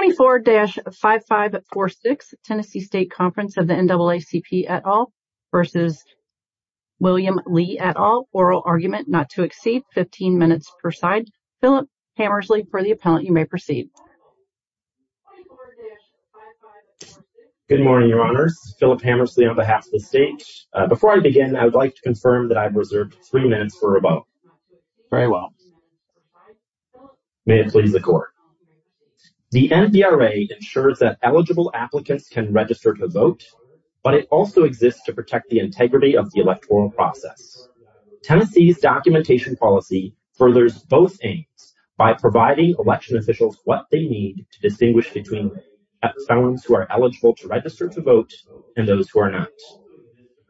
et al. Oral argument not to exceed 15 minutes per side. Philip Hammersley, for the appellant, you may proceed. Good morning, your honors. Philip Hammersley on behalf of the state. Before I begin, I would like to confirm that I've reserved three minutes for a vote. Very well. May it please the court. The NBRA ensures that eligible applicants can register to vote, but it also exists to protect the integrity of the electoral process. Tennessee's documentation policy furthers both aims by providing election officials what they need to distinguish between appellants who are eligible to register to vote and those who are not.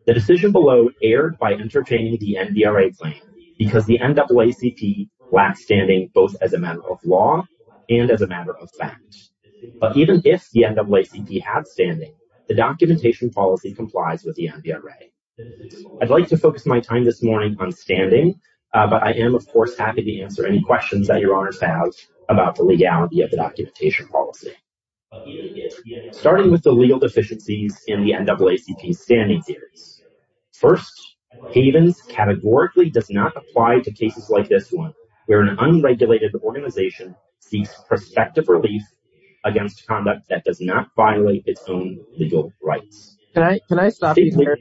The decision below erred by entertaining the NBRA claim because the NAACP lacks standing both as a matter of law and as a matter of fact. But even if the NAACP had standing, the documentation policy complies with the NBRA. I'd like to focus my time this morning on standing, but I am of course happy to answer any questions that your honors have about the legality of the standing series. First, Havens categorically does not apply to cases like this one, where an unregulated organization seeks prospective relief against conduct that does not violate its own legal rights. Can I stop you there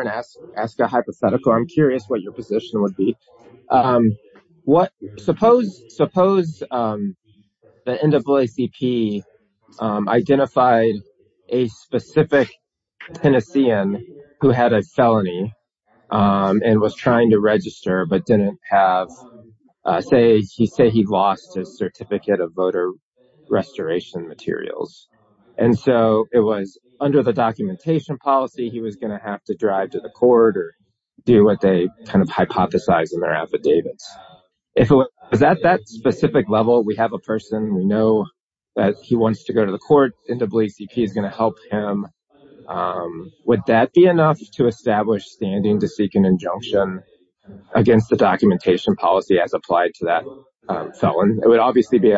and ask a hypothetical? I'm curious what your position would be. Suppose the NAACP identified a specific Tennessean who had a felony and was trying to register but didn't have, say he lost his certificate of voter restoration materials, and so it was under the documentation policy he was going to have to drive to the court or do what they kind of hypothesize in their affidavits. If it was at that specific level, we have a person, we know that he wants to go to the court, NAACP is going to help him, would that be enough to establish standing to seek an injunction against the documentation policy as applied to that felon? It would obviously be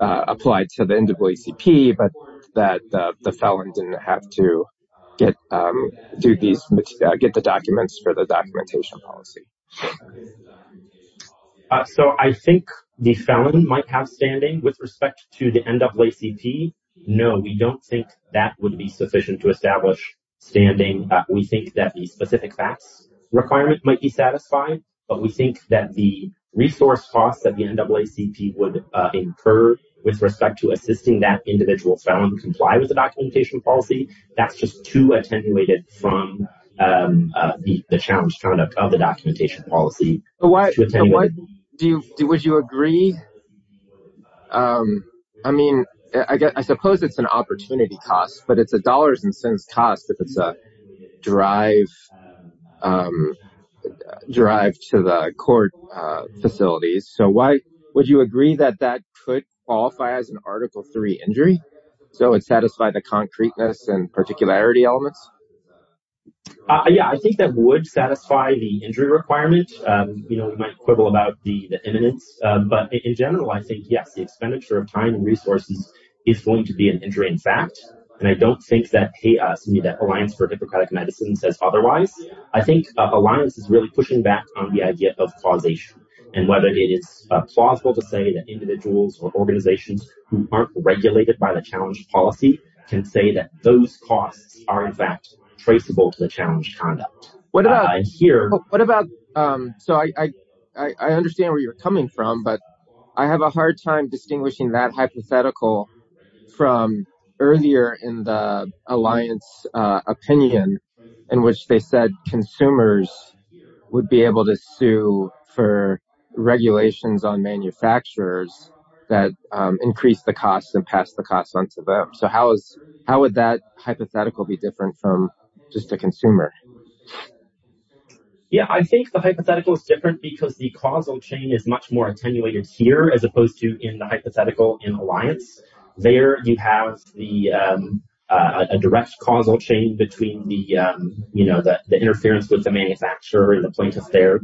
applied to the NAACP, but that the felon didn't have to get the documents for the documentation policy. So I think the felon might have standing with respect to the NAACP. No, we don't think that would be sufficient to establish standing. We think that the specific facts requirement might be satisfied, but we think that the resource costs that the NAACP would incur with respect to assisting that individual felon comply with the documentation policy, that's just too attenuated from the challenge conduct of the documentation policy. Would you agree? I mean, I suppose it's an opportunity cost, but it's a dollars and cents cost if it's a drive to the court facilities. So would you agree that that could qualify as an Article III injury? So it satisfied the concreteness and particularity elements? Yeah, I think that would satisfy the injury requirement. You know, we might quibble about the imminence, but in general, I think, yes, the expenditure of time and resources is going to be an injury in fact. And I don't think that the Alliance for Democratic Medicine says otherwise. I think Alliance is really pushing back on the idea of causation and whether it is plausible to say that individuals or organizations who aren't regulated by the challenge policy can say that those costs are in fact traceable to the challenge conduct. So I understand where you're coming from, but I have a hard time distinguishing that hypothetical from earlier in the Alliance opinion, in which they said consumers would be able to sue for regulations on manufacturers that increase the costs and pass the costs onto them. So how would that hypothetical be different from just a consumer? Yeah, I think the hypothetical is different because the causal chain is much more attenuated here as opposed to in the hypothetical in the Alliance. There you have a direct causal chain between the interference with the manufacturer and the plaintiff there.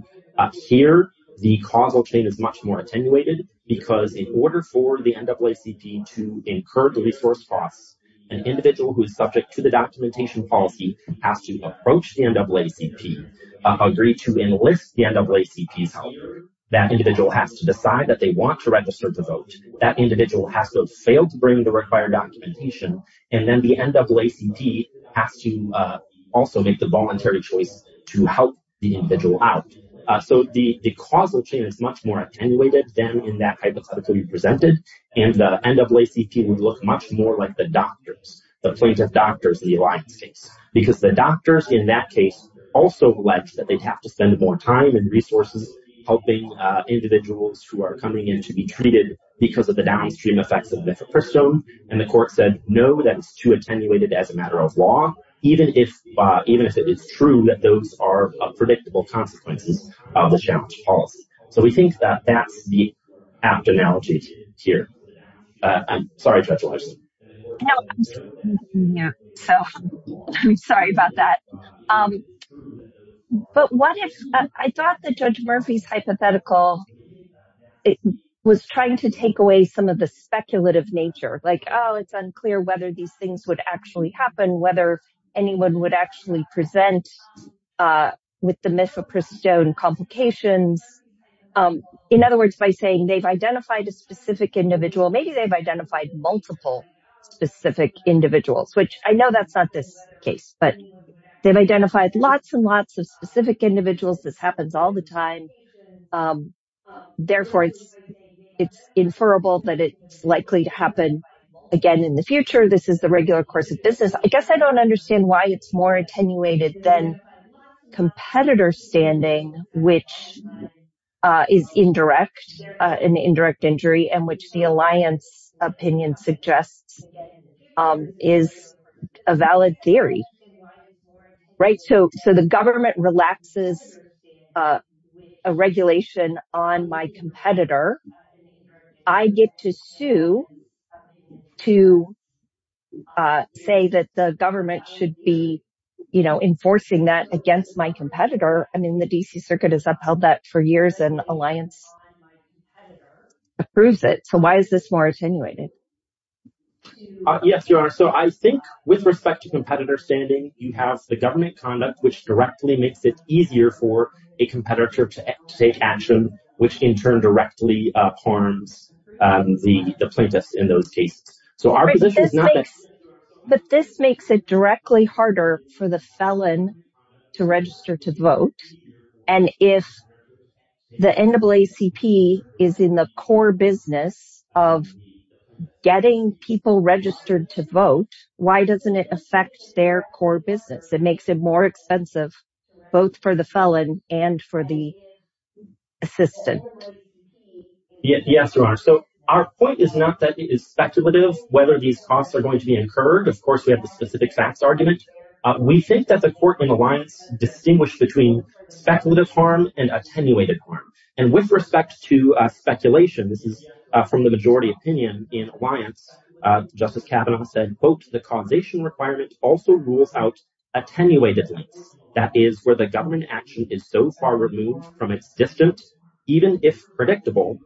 Here, the causal chain is much more attenuated because in order for the NAACP to incur the resource costs, an individual who is subject to the documentation policy has to approach the NAACP, agree to enlist the NAACP's help. That individual has to decide that they want to register to vote. That individual has to fail to bring the required documentation, and then the NAACP has to also make the voluntary choice to help the individual out. So the causal chain is much more attenuated than in that hypothetical you presented, and the NAACP would look much more like the doctors, the plaintiff doctors in the Alliance case, because the doctors in that case also alleged that they'd have to spend more time and resources helping individuals who are coming in to be treated because of the downstream effects of nifepristone, and the court said no, that's too attenuated as a matter of law, even if it is true that those are predictable consequences of the challenge policy. So we think that that's apt analogies here. I'm sorry, Judge Larson. So I'm sorry about that. But what if, I thought that Judge Murphy's hypothetical was trying to take away some of the speculative nature, like, oh, it's unclear whether these things would actually happen, whether anyone would actually present with the nifepristone complications. In other words, by saying they've identified a specific individual, maybe they've identified multiple specific individuals, which I know that's not this case, but they've identified lots and lots of specific individuals. This happens all the time. Therefore, it's inferable that it's likely to happen again in the future. This is the regular course of business. I guess I don't understand why it's more attenuated than competitor standing, which is indirect, an indirect injury, and which the alliance opinion suggests is a valid theory. Right? So the government relaxes a regulation on my competitor. I get to sue to say that the government should be, you know, enforcing that against my competitor. I mean, the DC Circuit has upheld that for years, and the alliance approves it. So why is this more attenuated? Yes, Your Honor. So I think with respect to competitor standing, you have the government conduct, which directly makes it easier for a competitor to take action, which in turn directly harms the plaintiffs in those cases. But this makes it directly harder for the felon to register to vote. And if the NAACP is in the core business of getting people registered to vote, why doesn't it affect their core business? It makes it more expensive, both for the felon and for the assistant. Yes, Your Honor. So our point is not that it is speculative whether these costs are going to be incurred. Of course, we have the specific facts argument. We think that the court and alliance distinguish between speculative harm and attenuated harm. And with respect to speculation, this is from the majority opinion in alliance, Justice Kavanaugh said, quote, the causation requirement also rules out attenuated lengths. That is where the government action is so far removed from its distant, even if predictable,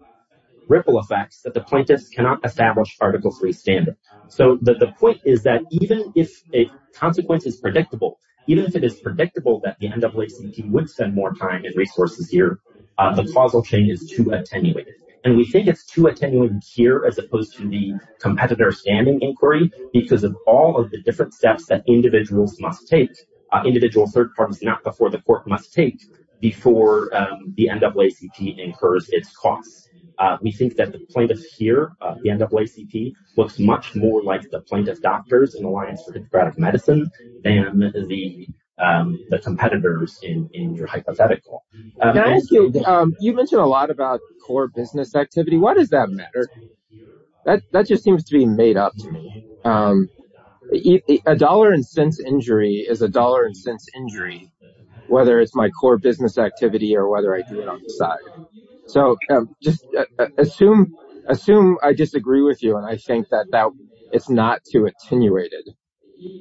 ripple effects that the plaintiffs cannot establish Article III standards. So the point is that even if a consequence is predictable, even if it is predictable that the NAACP would spend more time and resources here, the causal chain is too attenuated. And we think it's too attenuated here as opposed to the competitor standing inquiry because of all of the different steps that individuals must take, individual third parties, not before the court must take before the NAACP incurs its costs. We think that the plaintiff here, the NAACP, looks much more like the plaintiff doctors in Alliance for Democratic Medicine than the competitors in your hypothetical. You mentioned a lot about core business activity. What does that matter? That just seems to be made up to me. A dollar and cents injury is a dollar and cents injury, whether it's my core business activity or whether I do it on the side. So just assume I disagree with you and I think that it's not too attenuated.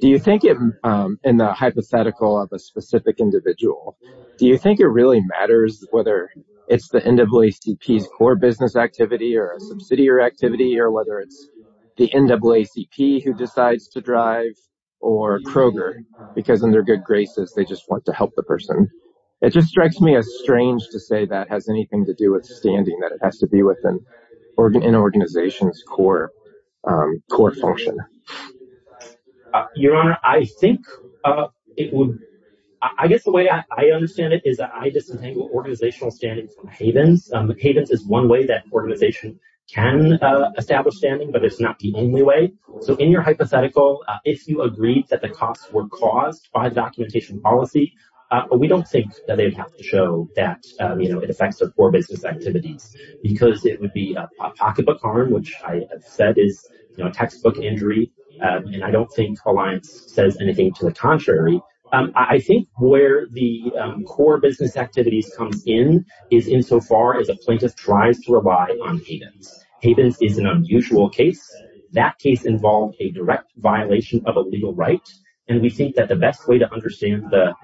Do you think in the hypothetical of a specific individual, do you think it really matters whether it's the NAACP's core business activity or a subsidiary activity or whether it's the NAACP who decides to drive or Kroger? Because in their good graces, they just want to help the person. It just strikes me as strange to say that has anything to do with standing, that it has to be within an organization's core function. Your Honor, I think it would, I guess the way I understand it is that I disentangle organizational standing from havens. Havens is one way that organization can establish standing, but it's not the only way. So in your hypothetical, if you agreed that the costs were caused by the documentation policy, we don't think that they would have to show that it affects their core business activities because it would be a pocketbook harm, which I have said is a textbook injury. And I don't think Alliance says anything to the contrary. I think where the core business activities comes in is insofar as a plaintiff tries to rely on havens. Havens is an unusual case. That case involved a direct violation of a legal right. And we think that the best way to understand the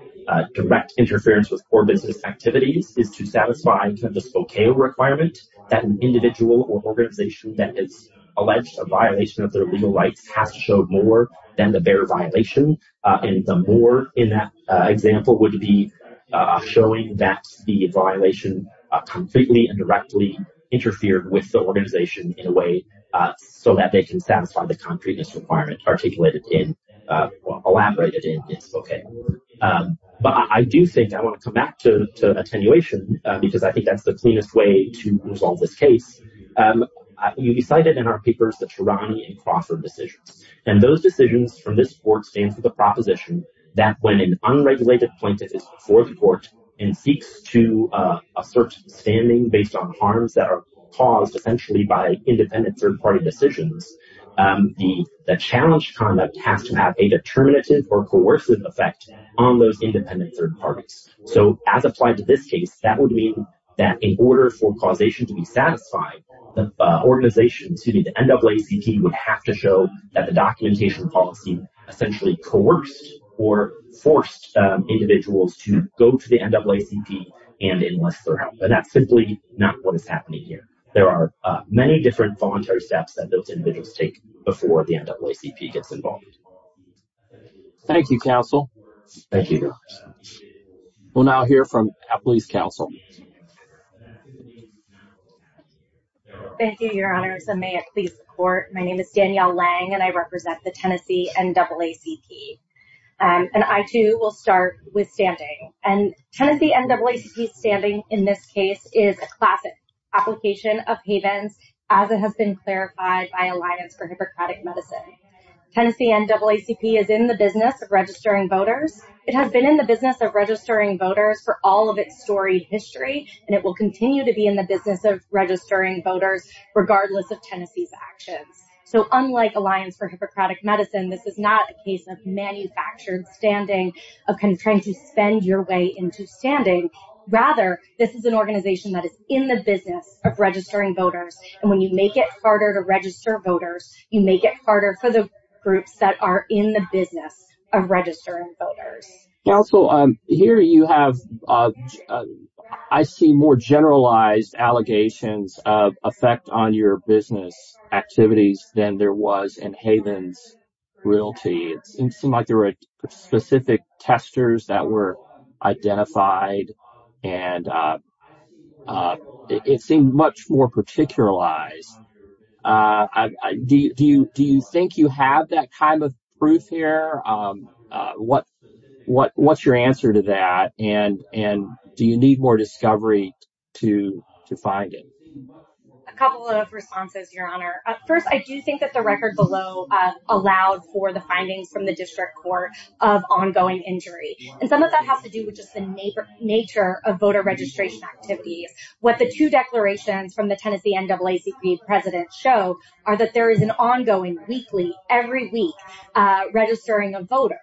direct interference with core business activities is to satisfy the Spokane requirement that an individual or organization that is alleged a violation of their legal rights has to show more than the bare violation. And the more in that example would be showing that the violation completely and directly interfered with the organization in a way so that they can satisfy the concrete misrequirement articulated in, elaborated in Spokane. But I do think I want to come back to attenuation because I think that's the cleanest way to resolve this case. You cited in our papers the Taranee and Crawford decisions. And those decisions from this court stand for the proposition that when an unregulated plaintiff is before the court and seeks to assert standing based on harms that are caused essentially by independent third-party decisions, the challenge conduct has to have a determinative or coercive effect on those independent third parties. So as applied to this case, that would mean that in order for causation to be satisfied, the organization, excuse me, the NAACP would have to show that the documentation policy essentially coerced or forced individuals to go to the NAACP and enlist their help. And that's simply not what is happening here. There are many different voluntary steps that those individuals take before the NAACP gets involved. Thank you, counsel. Thank you. We'll now hear from Appley's counsel. Thank you, your honors. And may it please the court. My name is Danielle Lang and I represent the Tennessee NAACP. And I too will start with standing. And Tennessee NAACP standing in this case is a classic application of havens as it has been clarified by Alliance for Hippocratic Medicine. Tennessee NAACP is in the business of registering voters. It has been in the business of registering voters for all of its storied history, and it will continue to be in the business of registering voters regardless of Tennessee's actions. So unlike Alliance for Hippocratic Medicine, this is not a case of manufactured standing of trying to spend your into standing. Rather, this is an organization that is in the business of registering voters. And when you make it harder to register voters, you make it harder for the groups that are in the business of registering voters. Counsel, here you have, I see more generalized allegations of effect on your business activities than there was in havens realty. It seemed like there were specific testers that were identified and it seemed much more particularized. Do you think you have that kind of proof here? What's your answer to that? And do you need more discovery to find it? A couple of responses, Your Honor. First, I do think that the record below allowed for the findings from the district court of ongoing injury. And some of that has to do with just the nature of voter registration activities. What the two declarations from the Tennessee NAACP president show are that there is an ongoing weekly, every week registering of voters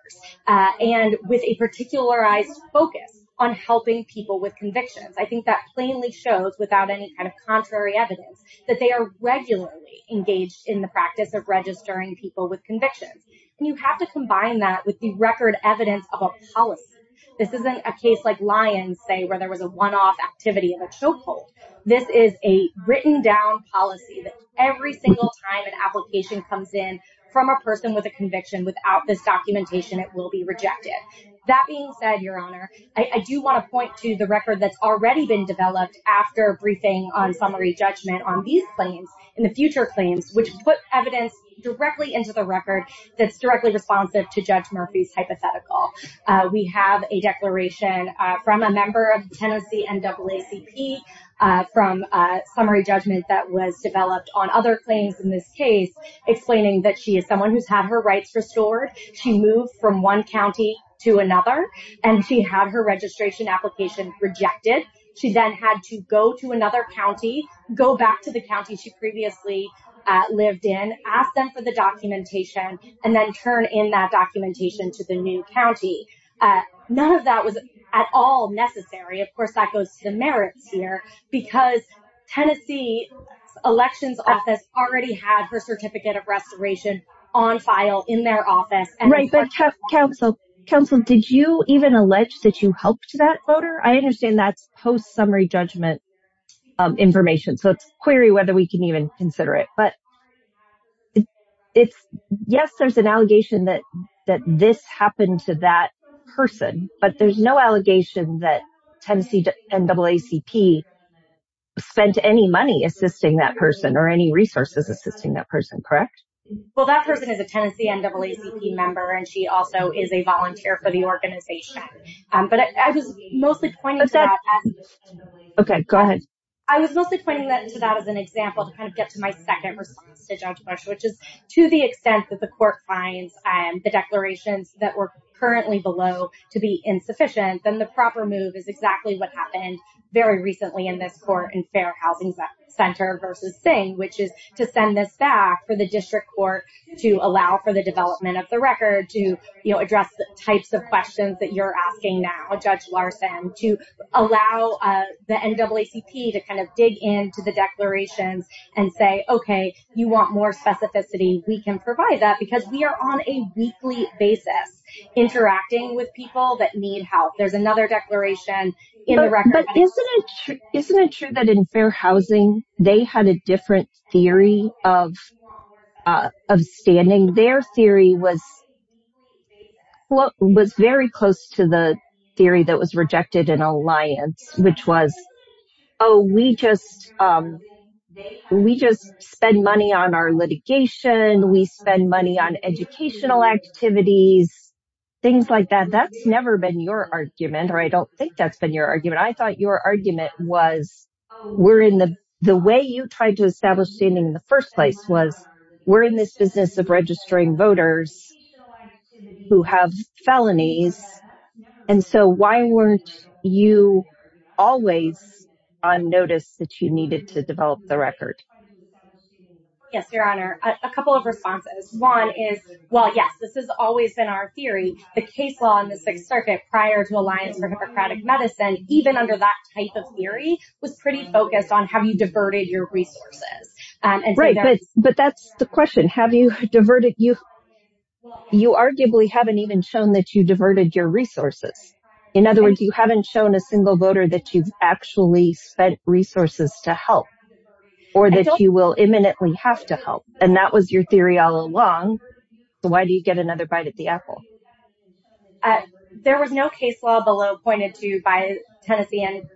and with a particularized focus on helping people with convictions. I think that plainly shows without any kind of contrary evidence that they are regularly engaged in the practice of registering people with convictions. And you have to combine that with the record evidence of a policy. This isn't a case like Lyons say, where there was a one-off activity of a chokehold. This is a written down policy that every single time an application comes in from a person with a conviction without this documentation, it will be rejected. That being said, Your Honor, I do want to point to the record that's already been developed after briefing on summary judgment on these claims in the future claims, which put evidence directly into the record that's directly responsive to Judge Murphy's hypothetical. We have a declaration from a member of Tennessee NAACP from a summary judgment that was developed on other claims in this case, explaining that she had her rights restored. She moved from one county to another and she had her registration application rejected. She then had to go to another county, go back to the county she previously lived in, ask them for the documentation, and then turn in that documentation to the new county. None of that was at all necessary. Of course, that goes to the merits here because Tennessee Elections Office already had her Certificate of Restoration on file in their office. Right, but Counsel, did you even allege that you helped that voter? I understand that's post-summary judgment information, so it's query whether we can even consider it. But yes, there's an allegation that this happened to that person, but there's no allegation that Tennessee NAACP spent any money assisting that person or any resources assisting that person, correct? Well, that person is a Tennessee NAACP member and she also is a volunteer for the organization. But I was mostly pointing to that as an example to kind of get to my second response to Judge Marsh, which is to the extent that the court finds the declarations that were currently below to be insufficient, then the proper move is exactly what happened very recently in this court in Fair Housing Center versus Singh, which is to send this back for the district court to allow for the development of the record to address the types of questions that you're asking now, Judge Larson, to allow the NAACP to kind of dig into the declarations and say, okay, you want more specificity, we can provide that because we are on a weekly basis interacting with people that need help. There's another declaration in the record. But isn't it true that in Fair Housing, they had a different theory of standing? Their theory was very close to the theory that was in Alliance, which was, oh, we just, we just spend money on our litigation, we spend money on educational activities, things like that. That's never been your argument, or I don't think that's been your argument. I thought your argument was, we're in the way you tried to establish standing in the first place was, we're in this business of registering voters who have felonies. And so why weren't you always on notice that you needed to develop the record? Yes, Your Honor, a couple of responses. One is, well, yes, this has always been our theory, the case law in the Sixth Circuit prior to Alliance for Hippocratic Medicine, even under that type of theory, was pretty focused on how you diverted your resources. Right. But that's the question. Have you diverted? You arguably haven't even shown that you diverted your resources. In other words, you haven't shown a single voter that you've actually spent resources to help, or that you will imminently have to help. And that was your theory all along. Why do you get another bite at the apple? There was no case law below pointed to by Tennessee,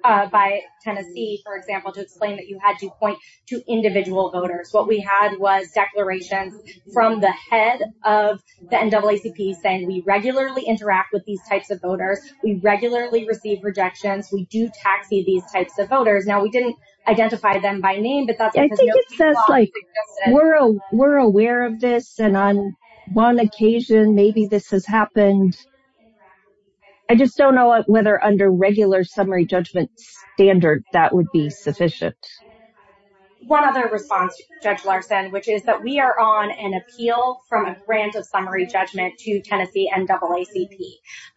for example, to explain that you had to point to individual voters. What we had was declarations from the head of the NAACP saying, we regularly interact with these types of voters, we regularly receive rejections, we do taxi these types of voters. Now, we didn't identify them by name. I think it says like, we're aware of this. And on one occasion, maybe this has happened. I just don't know whether under regular summary judgment standard, that would be sufficient. One other response, Judge Larson, which is that we are on an appeal from a grant of summary judgment to Tennessee and NAACP.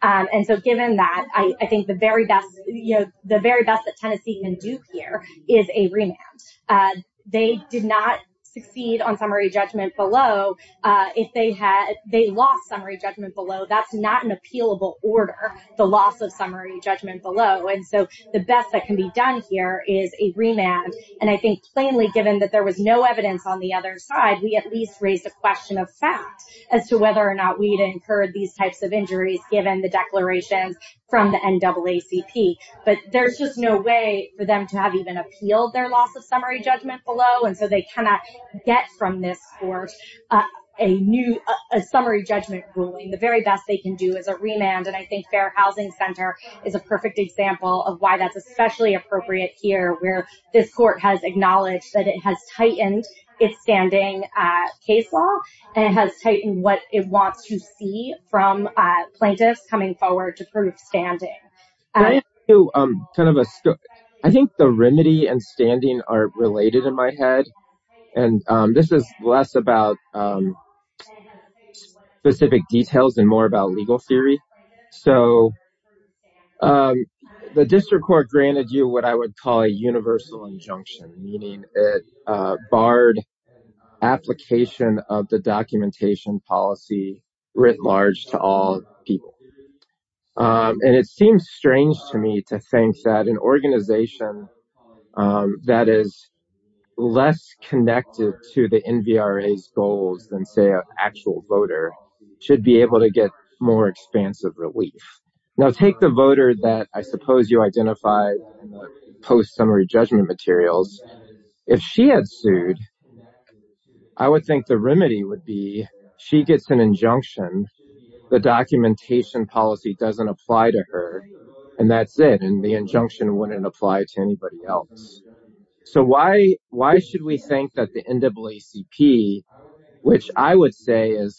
And so given that, I think the very best, you know, the very best that Tennessee can do here is a remand. They did not succeed on summary judgment below. If they had, they lost summary judgment below. That's not an appealable order, the loss of summary judgment below. And so the best that can be done here is a remand. And I think plainly given that there was no evidence on the other side, we at least raised a question of fact as to whether or not we'd incurred these types of injuries, given the declarations from the NAACP. But there's just no way for them to have even appealed their loss of summary judgment below. And so they cannot get from this court a new summary judgment ruling. The very best they can do is a remand. And I think Fair Housing Center is a perfect example of why that's especially appropriate here, where this court has acknowledged that it has tightened its standing case law and it has tightened what it wants to see from plaintiffs coming forward to prove standing. I think the remedy and standing are related in my head. And this is less about specific details and more about legal theory. So the district court granted you what I would call a universal injunction, meaning a barred application of the documentation policy writ large to all people. And it seems strange to me to think that an organization that is less connected to the NVRA's goals than, say, actual voter should be able to get more expansive relief. Now take the voter that I suppose you identified in the post-summary judgment materials. If she had sued, I would think the remedy would be she gets an injunction, the documentation policy doesn't apply to her, and that's it. And the injunction wouldn't apply to anybody else. So why should we think that the NAACP, which I would say is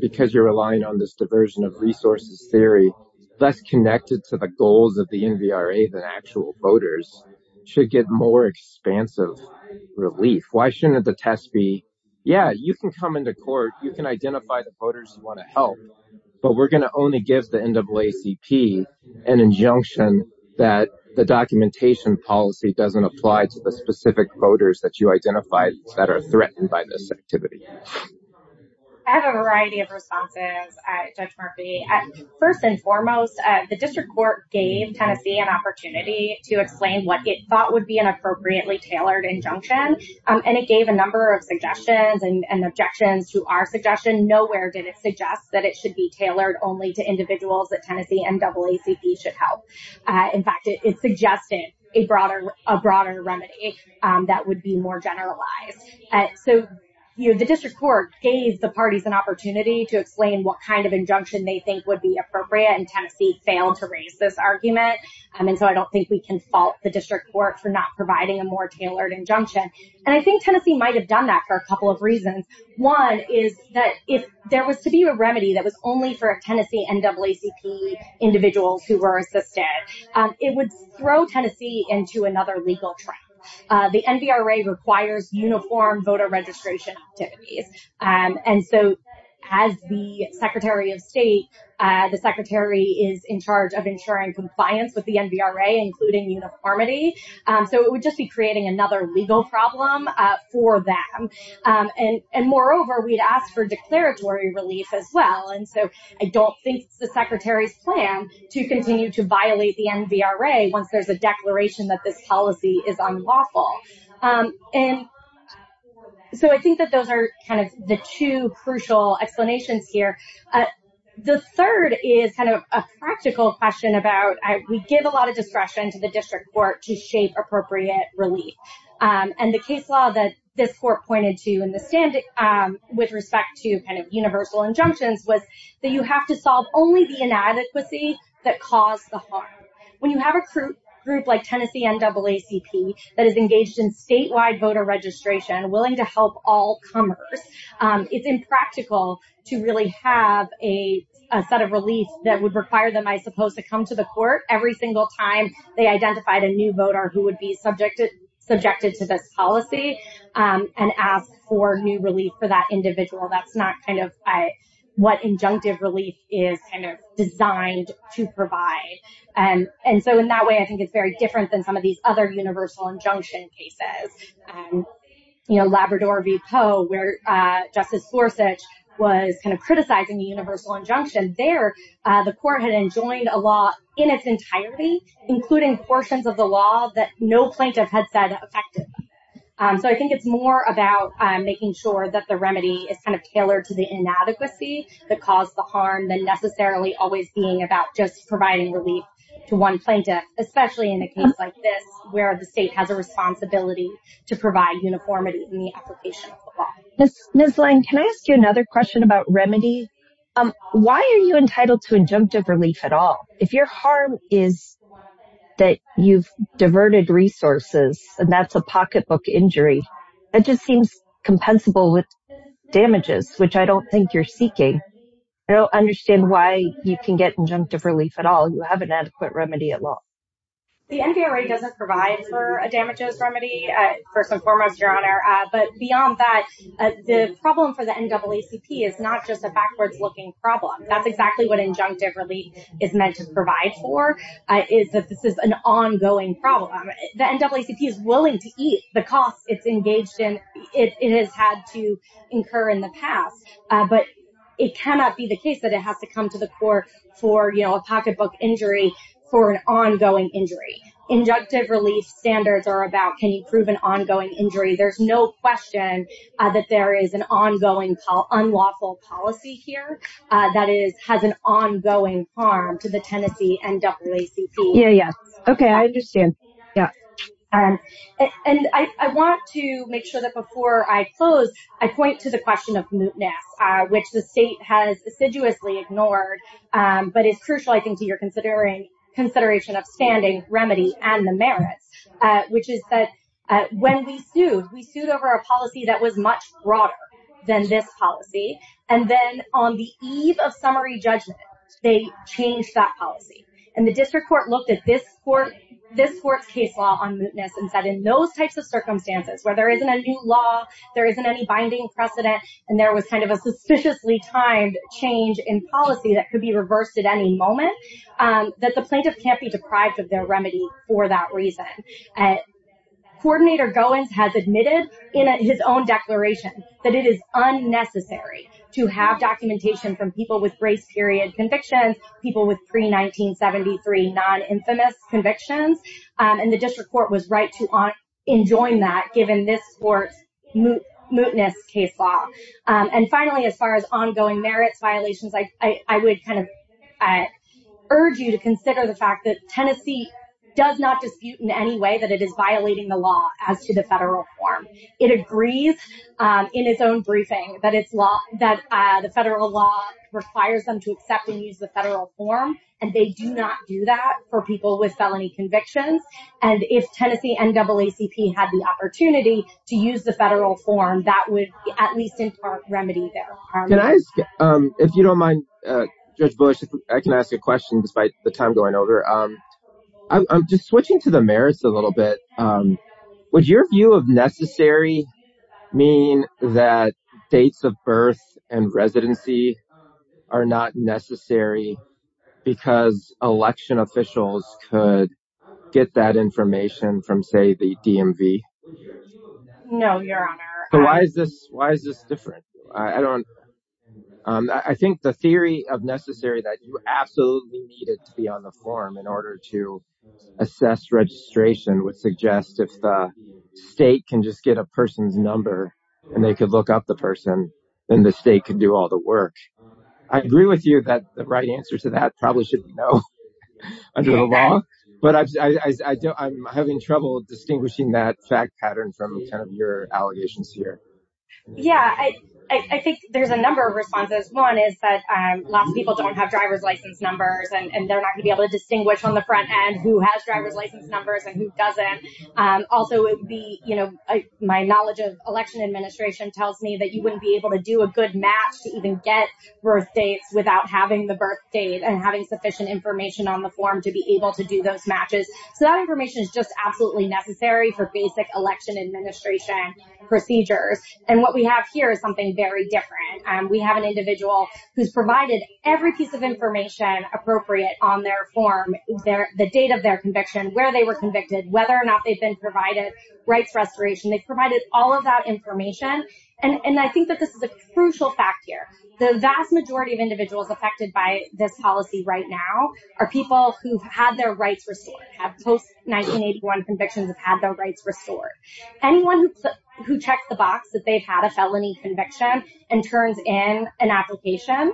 because you're relying on this diversion of resources theory, less connected to the goals of the NVRA than actual voters, should get more expansive relief? Why shouldn't the test be, yeah, you can come into court, you can identify the voters who want to help, but we're going to only give the NAACP an injunction that the documentation policy doesn't apply to the specific voters that you identified that are threatened by this activity? I have a variety of responses, Judge Murphy. First and foremost, the district court gave Tennessee an opportunity to explain what it thought would be an appropriately tailored injunction, and it gave a number of suggestions and objections to our suggestion. Nowhere did it suggest that it should be tailored only to individuals that Tennessee NAACP should help. In fact, it suggested a broader remedy that would be more generalized. So the district court gave the parties an opportunity to explain what kind of injunction they think would be appropriate, and Tennessee failed to raise this argument. And so I don't think we can fault the district court for not providing a more tailored injunction. And I think Tennessee might have done that for a couple of reasons. One is that if there was to be a remedy that was only for Tennessee NAACP individuals who were assisted, it would throw Tennessee into another legal trap. The NVRA requires uniform voter registration activities. And so as the Secretary of State, the Secretary is in charge of ensuring compliance with the NVRA, including uniformity. So it would just be creating another legal problem for them. And moreover, we'd ask for declaratory relief as well. And so I don't think it's the Secretary's plan to continue to violate the NVRA once there's a declaration that this policy is unlawful. And so I think that those are kind of the two crucial explanations here. The third is kind of a practical question about, we give a lot of discretion to the district court to shape appropriate relief. And the case law that this pointed to in the standing with respect to kind of universal injunctions was that you have to solve only the inadequacy that caused the harm. When you have a group like Tennessee NAACP that is engaged in statewide voter registration, willing to help all comers, it's impractical to really have a set of relief that would require them, I suppose, to come to the court every single time they identified a new voter who would be subjected to this policy and ask for new relief for that individual. That's not kind of what injunctive relief is kind of designed to provide. And so in that way, I think it's very different than some of these other universal injunction cases. You know, Labrador v. Poe, where Justice Gorsuch was kind of criticizing the universal injunction. There, the court had enjoined a law in its entirety, including portions of the law that no plaintiff had said affected them. So I think it's more about making sure that the remedy is kind of tailored to the inadequacy that caused the harm than necessarily always being about just providing relief to one plaintiff, especially in a case like this, where the state has a responsibility to provide uniformity in the application of the law. Ms. Lange, can I ask you another question about remedy? Why are you entitled to injunctive relief at all? If your harm is that you've diverted resources and that's a pocketbook injury, that just seems compensable with damages, which I don't think you're seeking. I don't understand why you can get injunctive relief at all. You have an adequate remedy at law. The NVRA doesn't provide for a damages remedy, first and foremost, Your Honor. But beyond that, the problem for the NAACP is not just a backwards-looking problem. That's exactly what injunctive relief is meant to provide for, is that this is an ongoing problem. The NAACP is willing to eat the costs it's engaged in. It has had to incur in the past. But it cannot be the case that it has to come to the court for a pocketbook injury for an ongoing injury. Injunctive relief standards are about can you prove an ongoing injury. There's no question that there is an ongoing unlawful policy here that has an ongoing harm to the Tennessee NAACP. Yeah, yeah. Okay, I understand. Yeah. And I want to make sure that before I close, I point to the question of mootness, which the state has assiduously ignored. But it's crucial, I think, to your consideration of standing, remedy, and the merits, which is that when we sued, we sued over a policy that was much broader than this policy. And then on the eve of summary judgment, they changed that policy. And the district court looked at this court's case law on mootness and said in those types of circumstances, where there isn't a new law, there isn't any binding precedent, and there was kind of a suspiciously timed change in policy that could be reversed at any moment, that the plaintiff can't be deprived of their remedy for that reason. Coordinator Goins has admitted in his own declaration that it is unnecessary to have documentation from people with grace period convictions, people with pre-1973 non-infamous convictions. And the district court was right to enjoin that given this court's mootness case law. And finally, as far as ongoing merits violations, I would kind of urge you to consider the fact that Tennessee does not dispute in any way that it is violating the law as to the federal form. It agrees in its own briefing that the federal law requires them to accept and use the federal form, and they do not do that for people with felony convictions. And if Tennessee NAACP had the opportunity to use the federal form, that would at least impart remedy there. Can I ask, if you don't mind, Judge Bush, if I can ask a question despite the time going over. I'm just switching to the merits a little bit. Would your view of necessary mean that dates of birth and residency are not necessary because election officials could get that information from, say, the DMV? No, your honor. Why is this different? I think the theory of necessary that you absolutely need it to be on the form in order to assess registration would suggest if the state can just get a person's number and they could look up the person, then the state could do all the work. I agree with you that the right answer to that probably should be no under the law, but I'm having trouble distinguishing that fact pattern from your allegations here. Yeah, I think there's a number of responses. One is that lots of people don't have driver's license numbers, and they're not going to be able to distinguish on the front end who has driver's license numbers and who doesn't. Also, my knowledge of election administration tells me that you wouldn't be able to do a good match to even get birth dates without having the sufficient information on the form to be able to do those matches. So that information is just absolutely necessary for basic election administration procedures. And what we have here is something very different. We have an individual who's provided every piece of information appropriate on their form, the date of their conviction, where they were convicted, whether or not they've been provided rights restoration. They've provided all of that information. And I think that this is a crucial fact here. The vast majority of individuals affected by this policy right now are people who've had their rights restored, have post-1981 convictions, have had their rights restored. Anyone who checks the box that they've had a felony conviction and turns in an application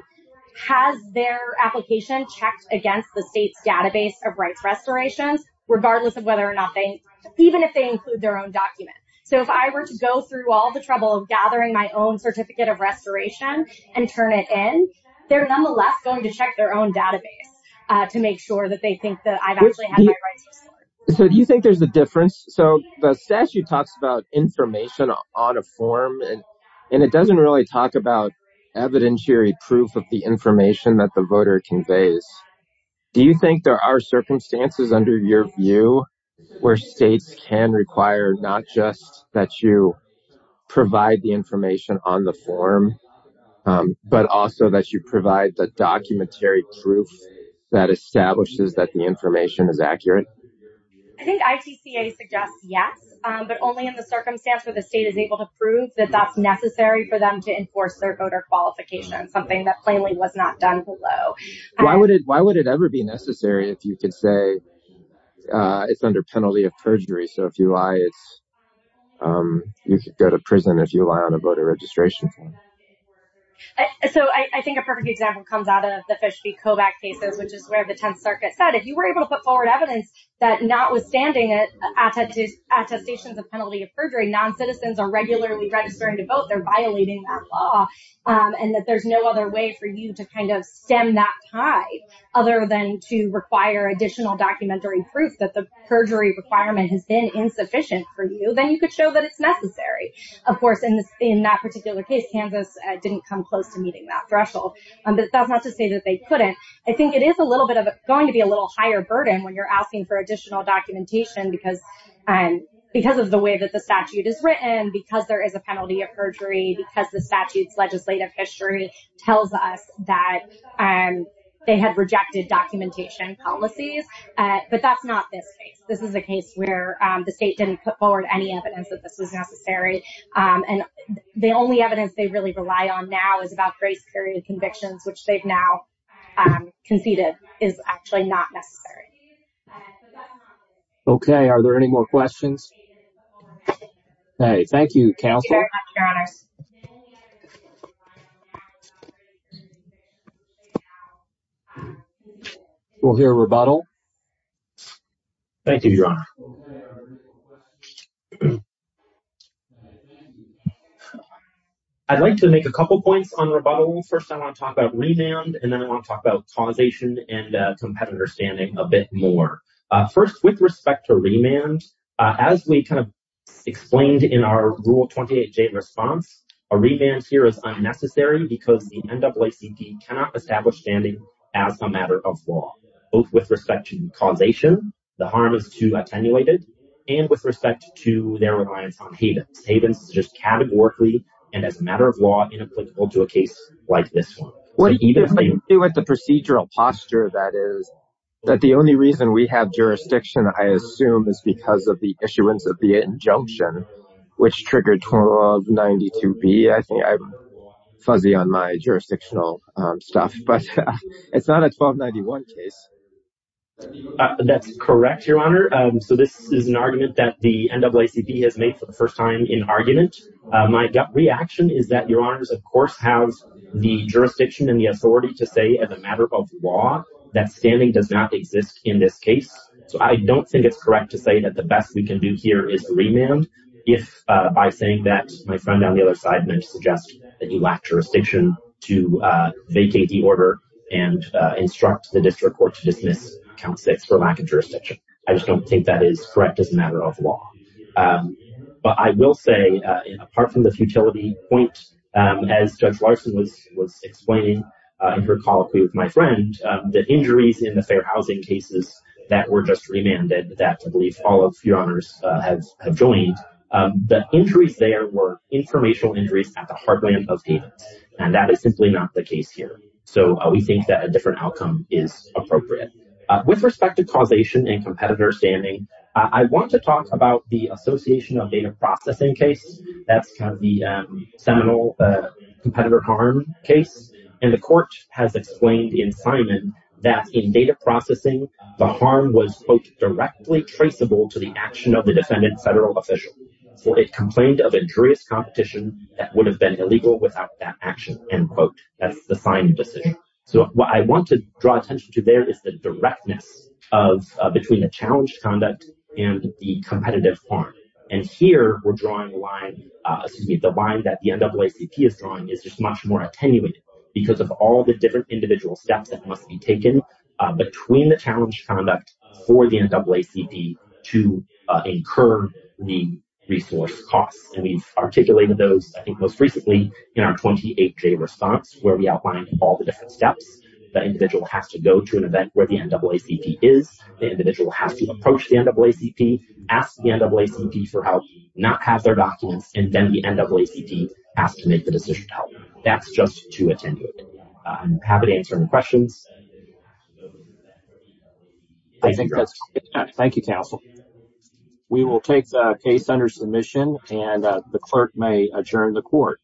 has their application checked against the state's database of rights restorations, regardless of whether or not they, even if they include their own document. So if I were to go through all the trouble of gathering my own certificate of restoration and turn it in, they're nonetheless going to check their own database to make sure that they think that I've actually had my rights restored. So do you think there's a difference? So the statute talks about information on a form and it doesn't really talk about evidentiary proof of the information that the voter conveys. Do you think there are circumstances under your view where states can require not just that you provide the information on the form, but also that you provide the documentary proof that establishes that the information is accurate? I think ITCA suggests yes, but only in the circumstance where the state is able to prove that that's necessary for them to enforce their voter qualification, something that plainly was not done below. Why would it ever be necessary if you could say it's under penalty of perjury? So if you lie, you could go to prison if you lie on a voter registration form. So I think a perfect example comes out of the Fish v. Kobach cases, which is where the 10th Circuit said if you were able to put forward evidence that notwithstanding attestations of penalty of perjury, non-citizens are regularly registering to vote, they're violating that law and that there's no other way for you to kind of stem that tide other than to require additional documentary proof that the perjury requirement has been insufficient for you, then you could show that it's necessary. Of course, in that particular case, Kansas didn't come close to meeting that threshold, but that's not to say that they couldn't. I think it is a little bit of going to be a little higher burden when you're asking for additional documentation because of the way that the statute is written, because there is a penalty of perjury, because the legislative history tells us that they had rejected documentation policies, but that's not this case. This is a case where the state didn't put forward any evidence that this was necessary, and the only evidence they really rely on now is about grace period convictions, which they've now conceded is actually not necessary. Okay, are there any more questions? Okay, thank you counsel. We'll hear a rebuttal. Thank you, your honor. I'd like to make a couple points on rebuttal. First, I want to talk about remand, and then I want to talk about causation and competitor standing a bit more. First, with respect to remand, as we kind of explained in our Rule 28J response, a remand here is unnecessary because the NAACP cannot establish standing as a matter of law, both with respect to causation, the harm is too attenuated, and with respect to their reliance on havens. Havens is just categorically and as a matter of law inapplicable to a case like this one. What do you do with the procedural posture, that is, that the only reason we have jurisdiction, I assume, is because of the issuance of the injunction, which triggered 1292B. I think I'm fuzzy on my jurisdictional stuff, but it's not a 1291 case. That's correct, your honor. So this is an argument that the NAACP has made for the first time in argument. My gut reaction is that your honors, of course, have the jurisdiction and the authority to say, as a matter of law, that standing does not exist in this case. So I don't think it's correct to say that the best we can do here is remand if, by saying that, my friend on the other side may suggest that you lack jurisdiction to vacate the order and instruct the district court to dismiss count six for lack of jurisdiction. I just don't think that is correct as a matter of law. But I will say, apart from the futility point, as Judge Larson was explaining in her colloquy with my friend, the injuries in the fair housing cases that were just remanded, that I believe all of your honors have joined, the injuries there were informational injuries at the heartland of payments, and that is simply not the case here. So we think that a different the association of data processing case, that's kind of the seminal competitor harm case, and the court has explained in Simon that in data processing, the harm was, quote, directly traceable to the action of the defendant federal official. So it complained of injurious competition that would have been illegal without that action, end quote. That's the Simon decision. So what I want to draw attention to there is the directness of between the challenged conduct and the competitive harm. And here we're drawing a line, excuse me, the line that the NAACP is drawing is just much more attenuated because of all the different individual steps that must be taken between the challenged conduct for the NAACP to incur the resource costs. And we've articulated those, I think, most recently in our 28-day response where we outlined all the different steps. The individual has to go to an event where the NAACP is. The individual has to approach the NAACP, ask the NAACP for help, not have their documents, and then the NAACP has to make the decision to help. That's just too attenuated. I'm happy to answer any questions. Thank you, counsel. We will take the case under submission and the clerk may adjourn the court.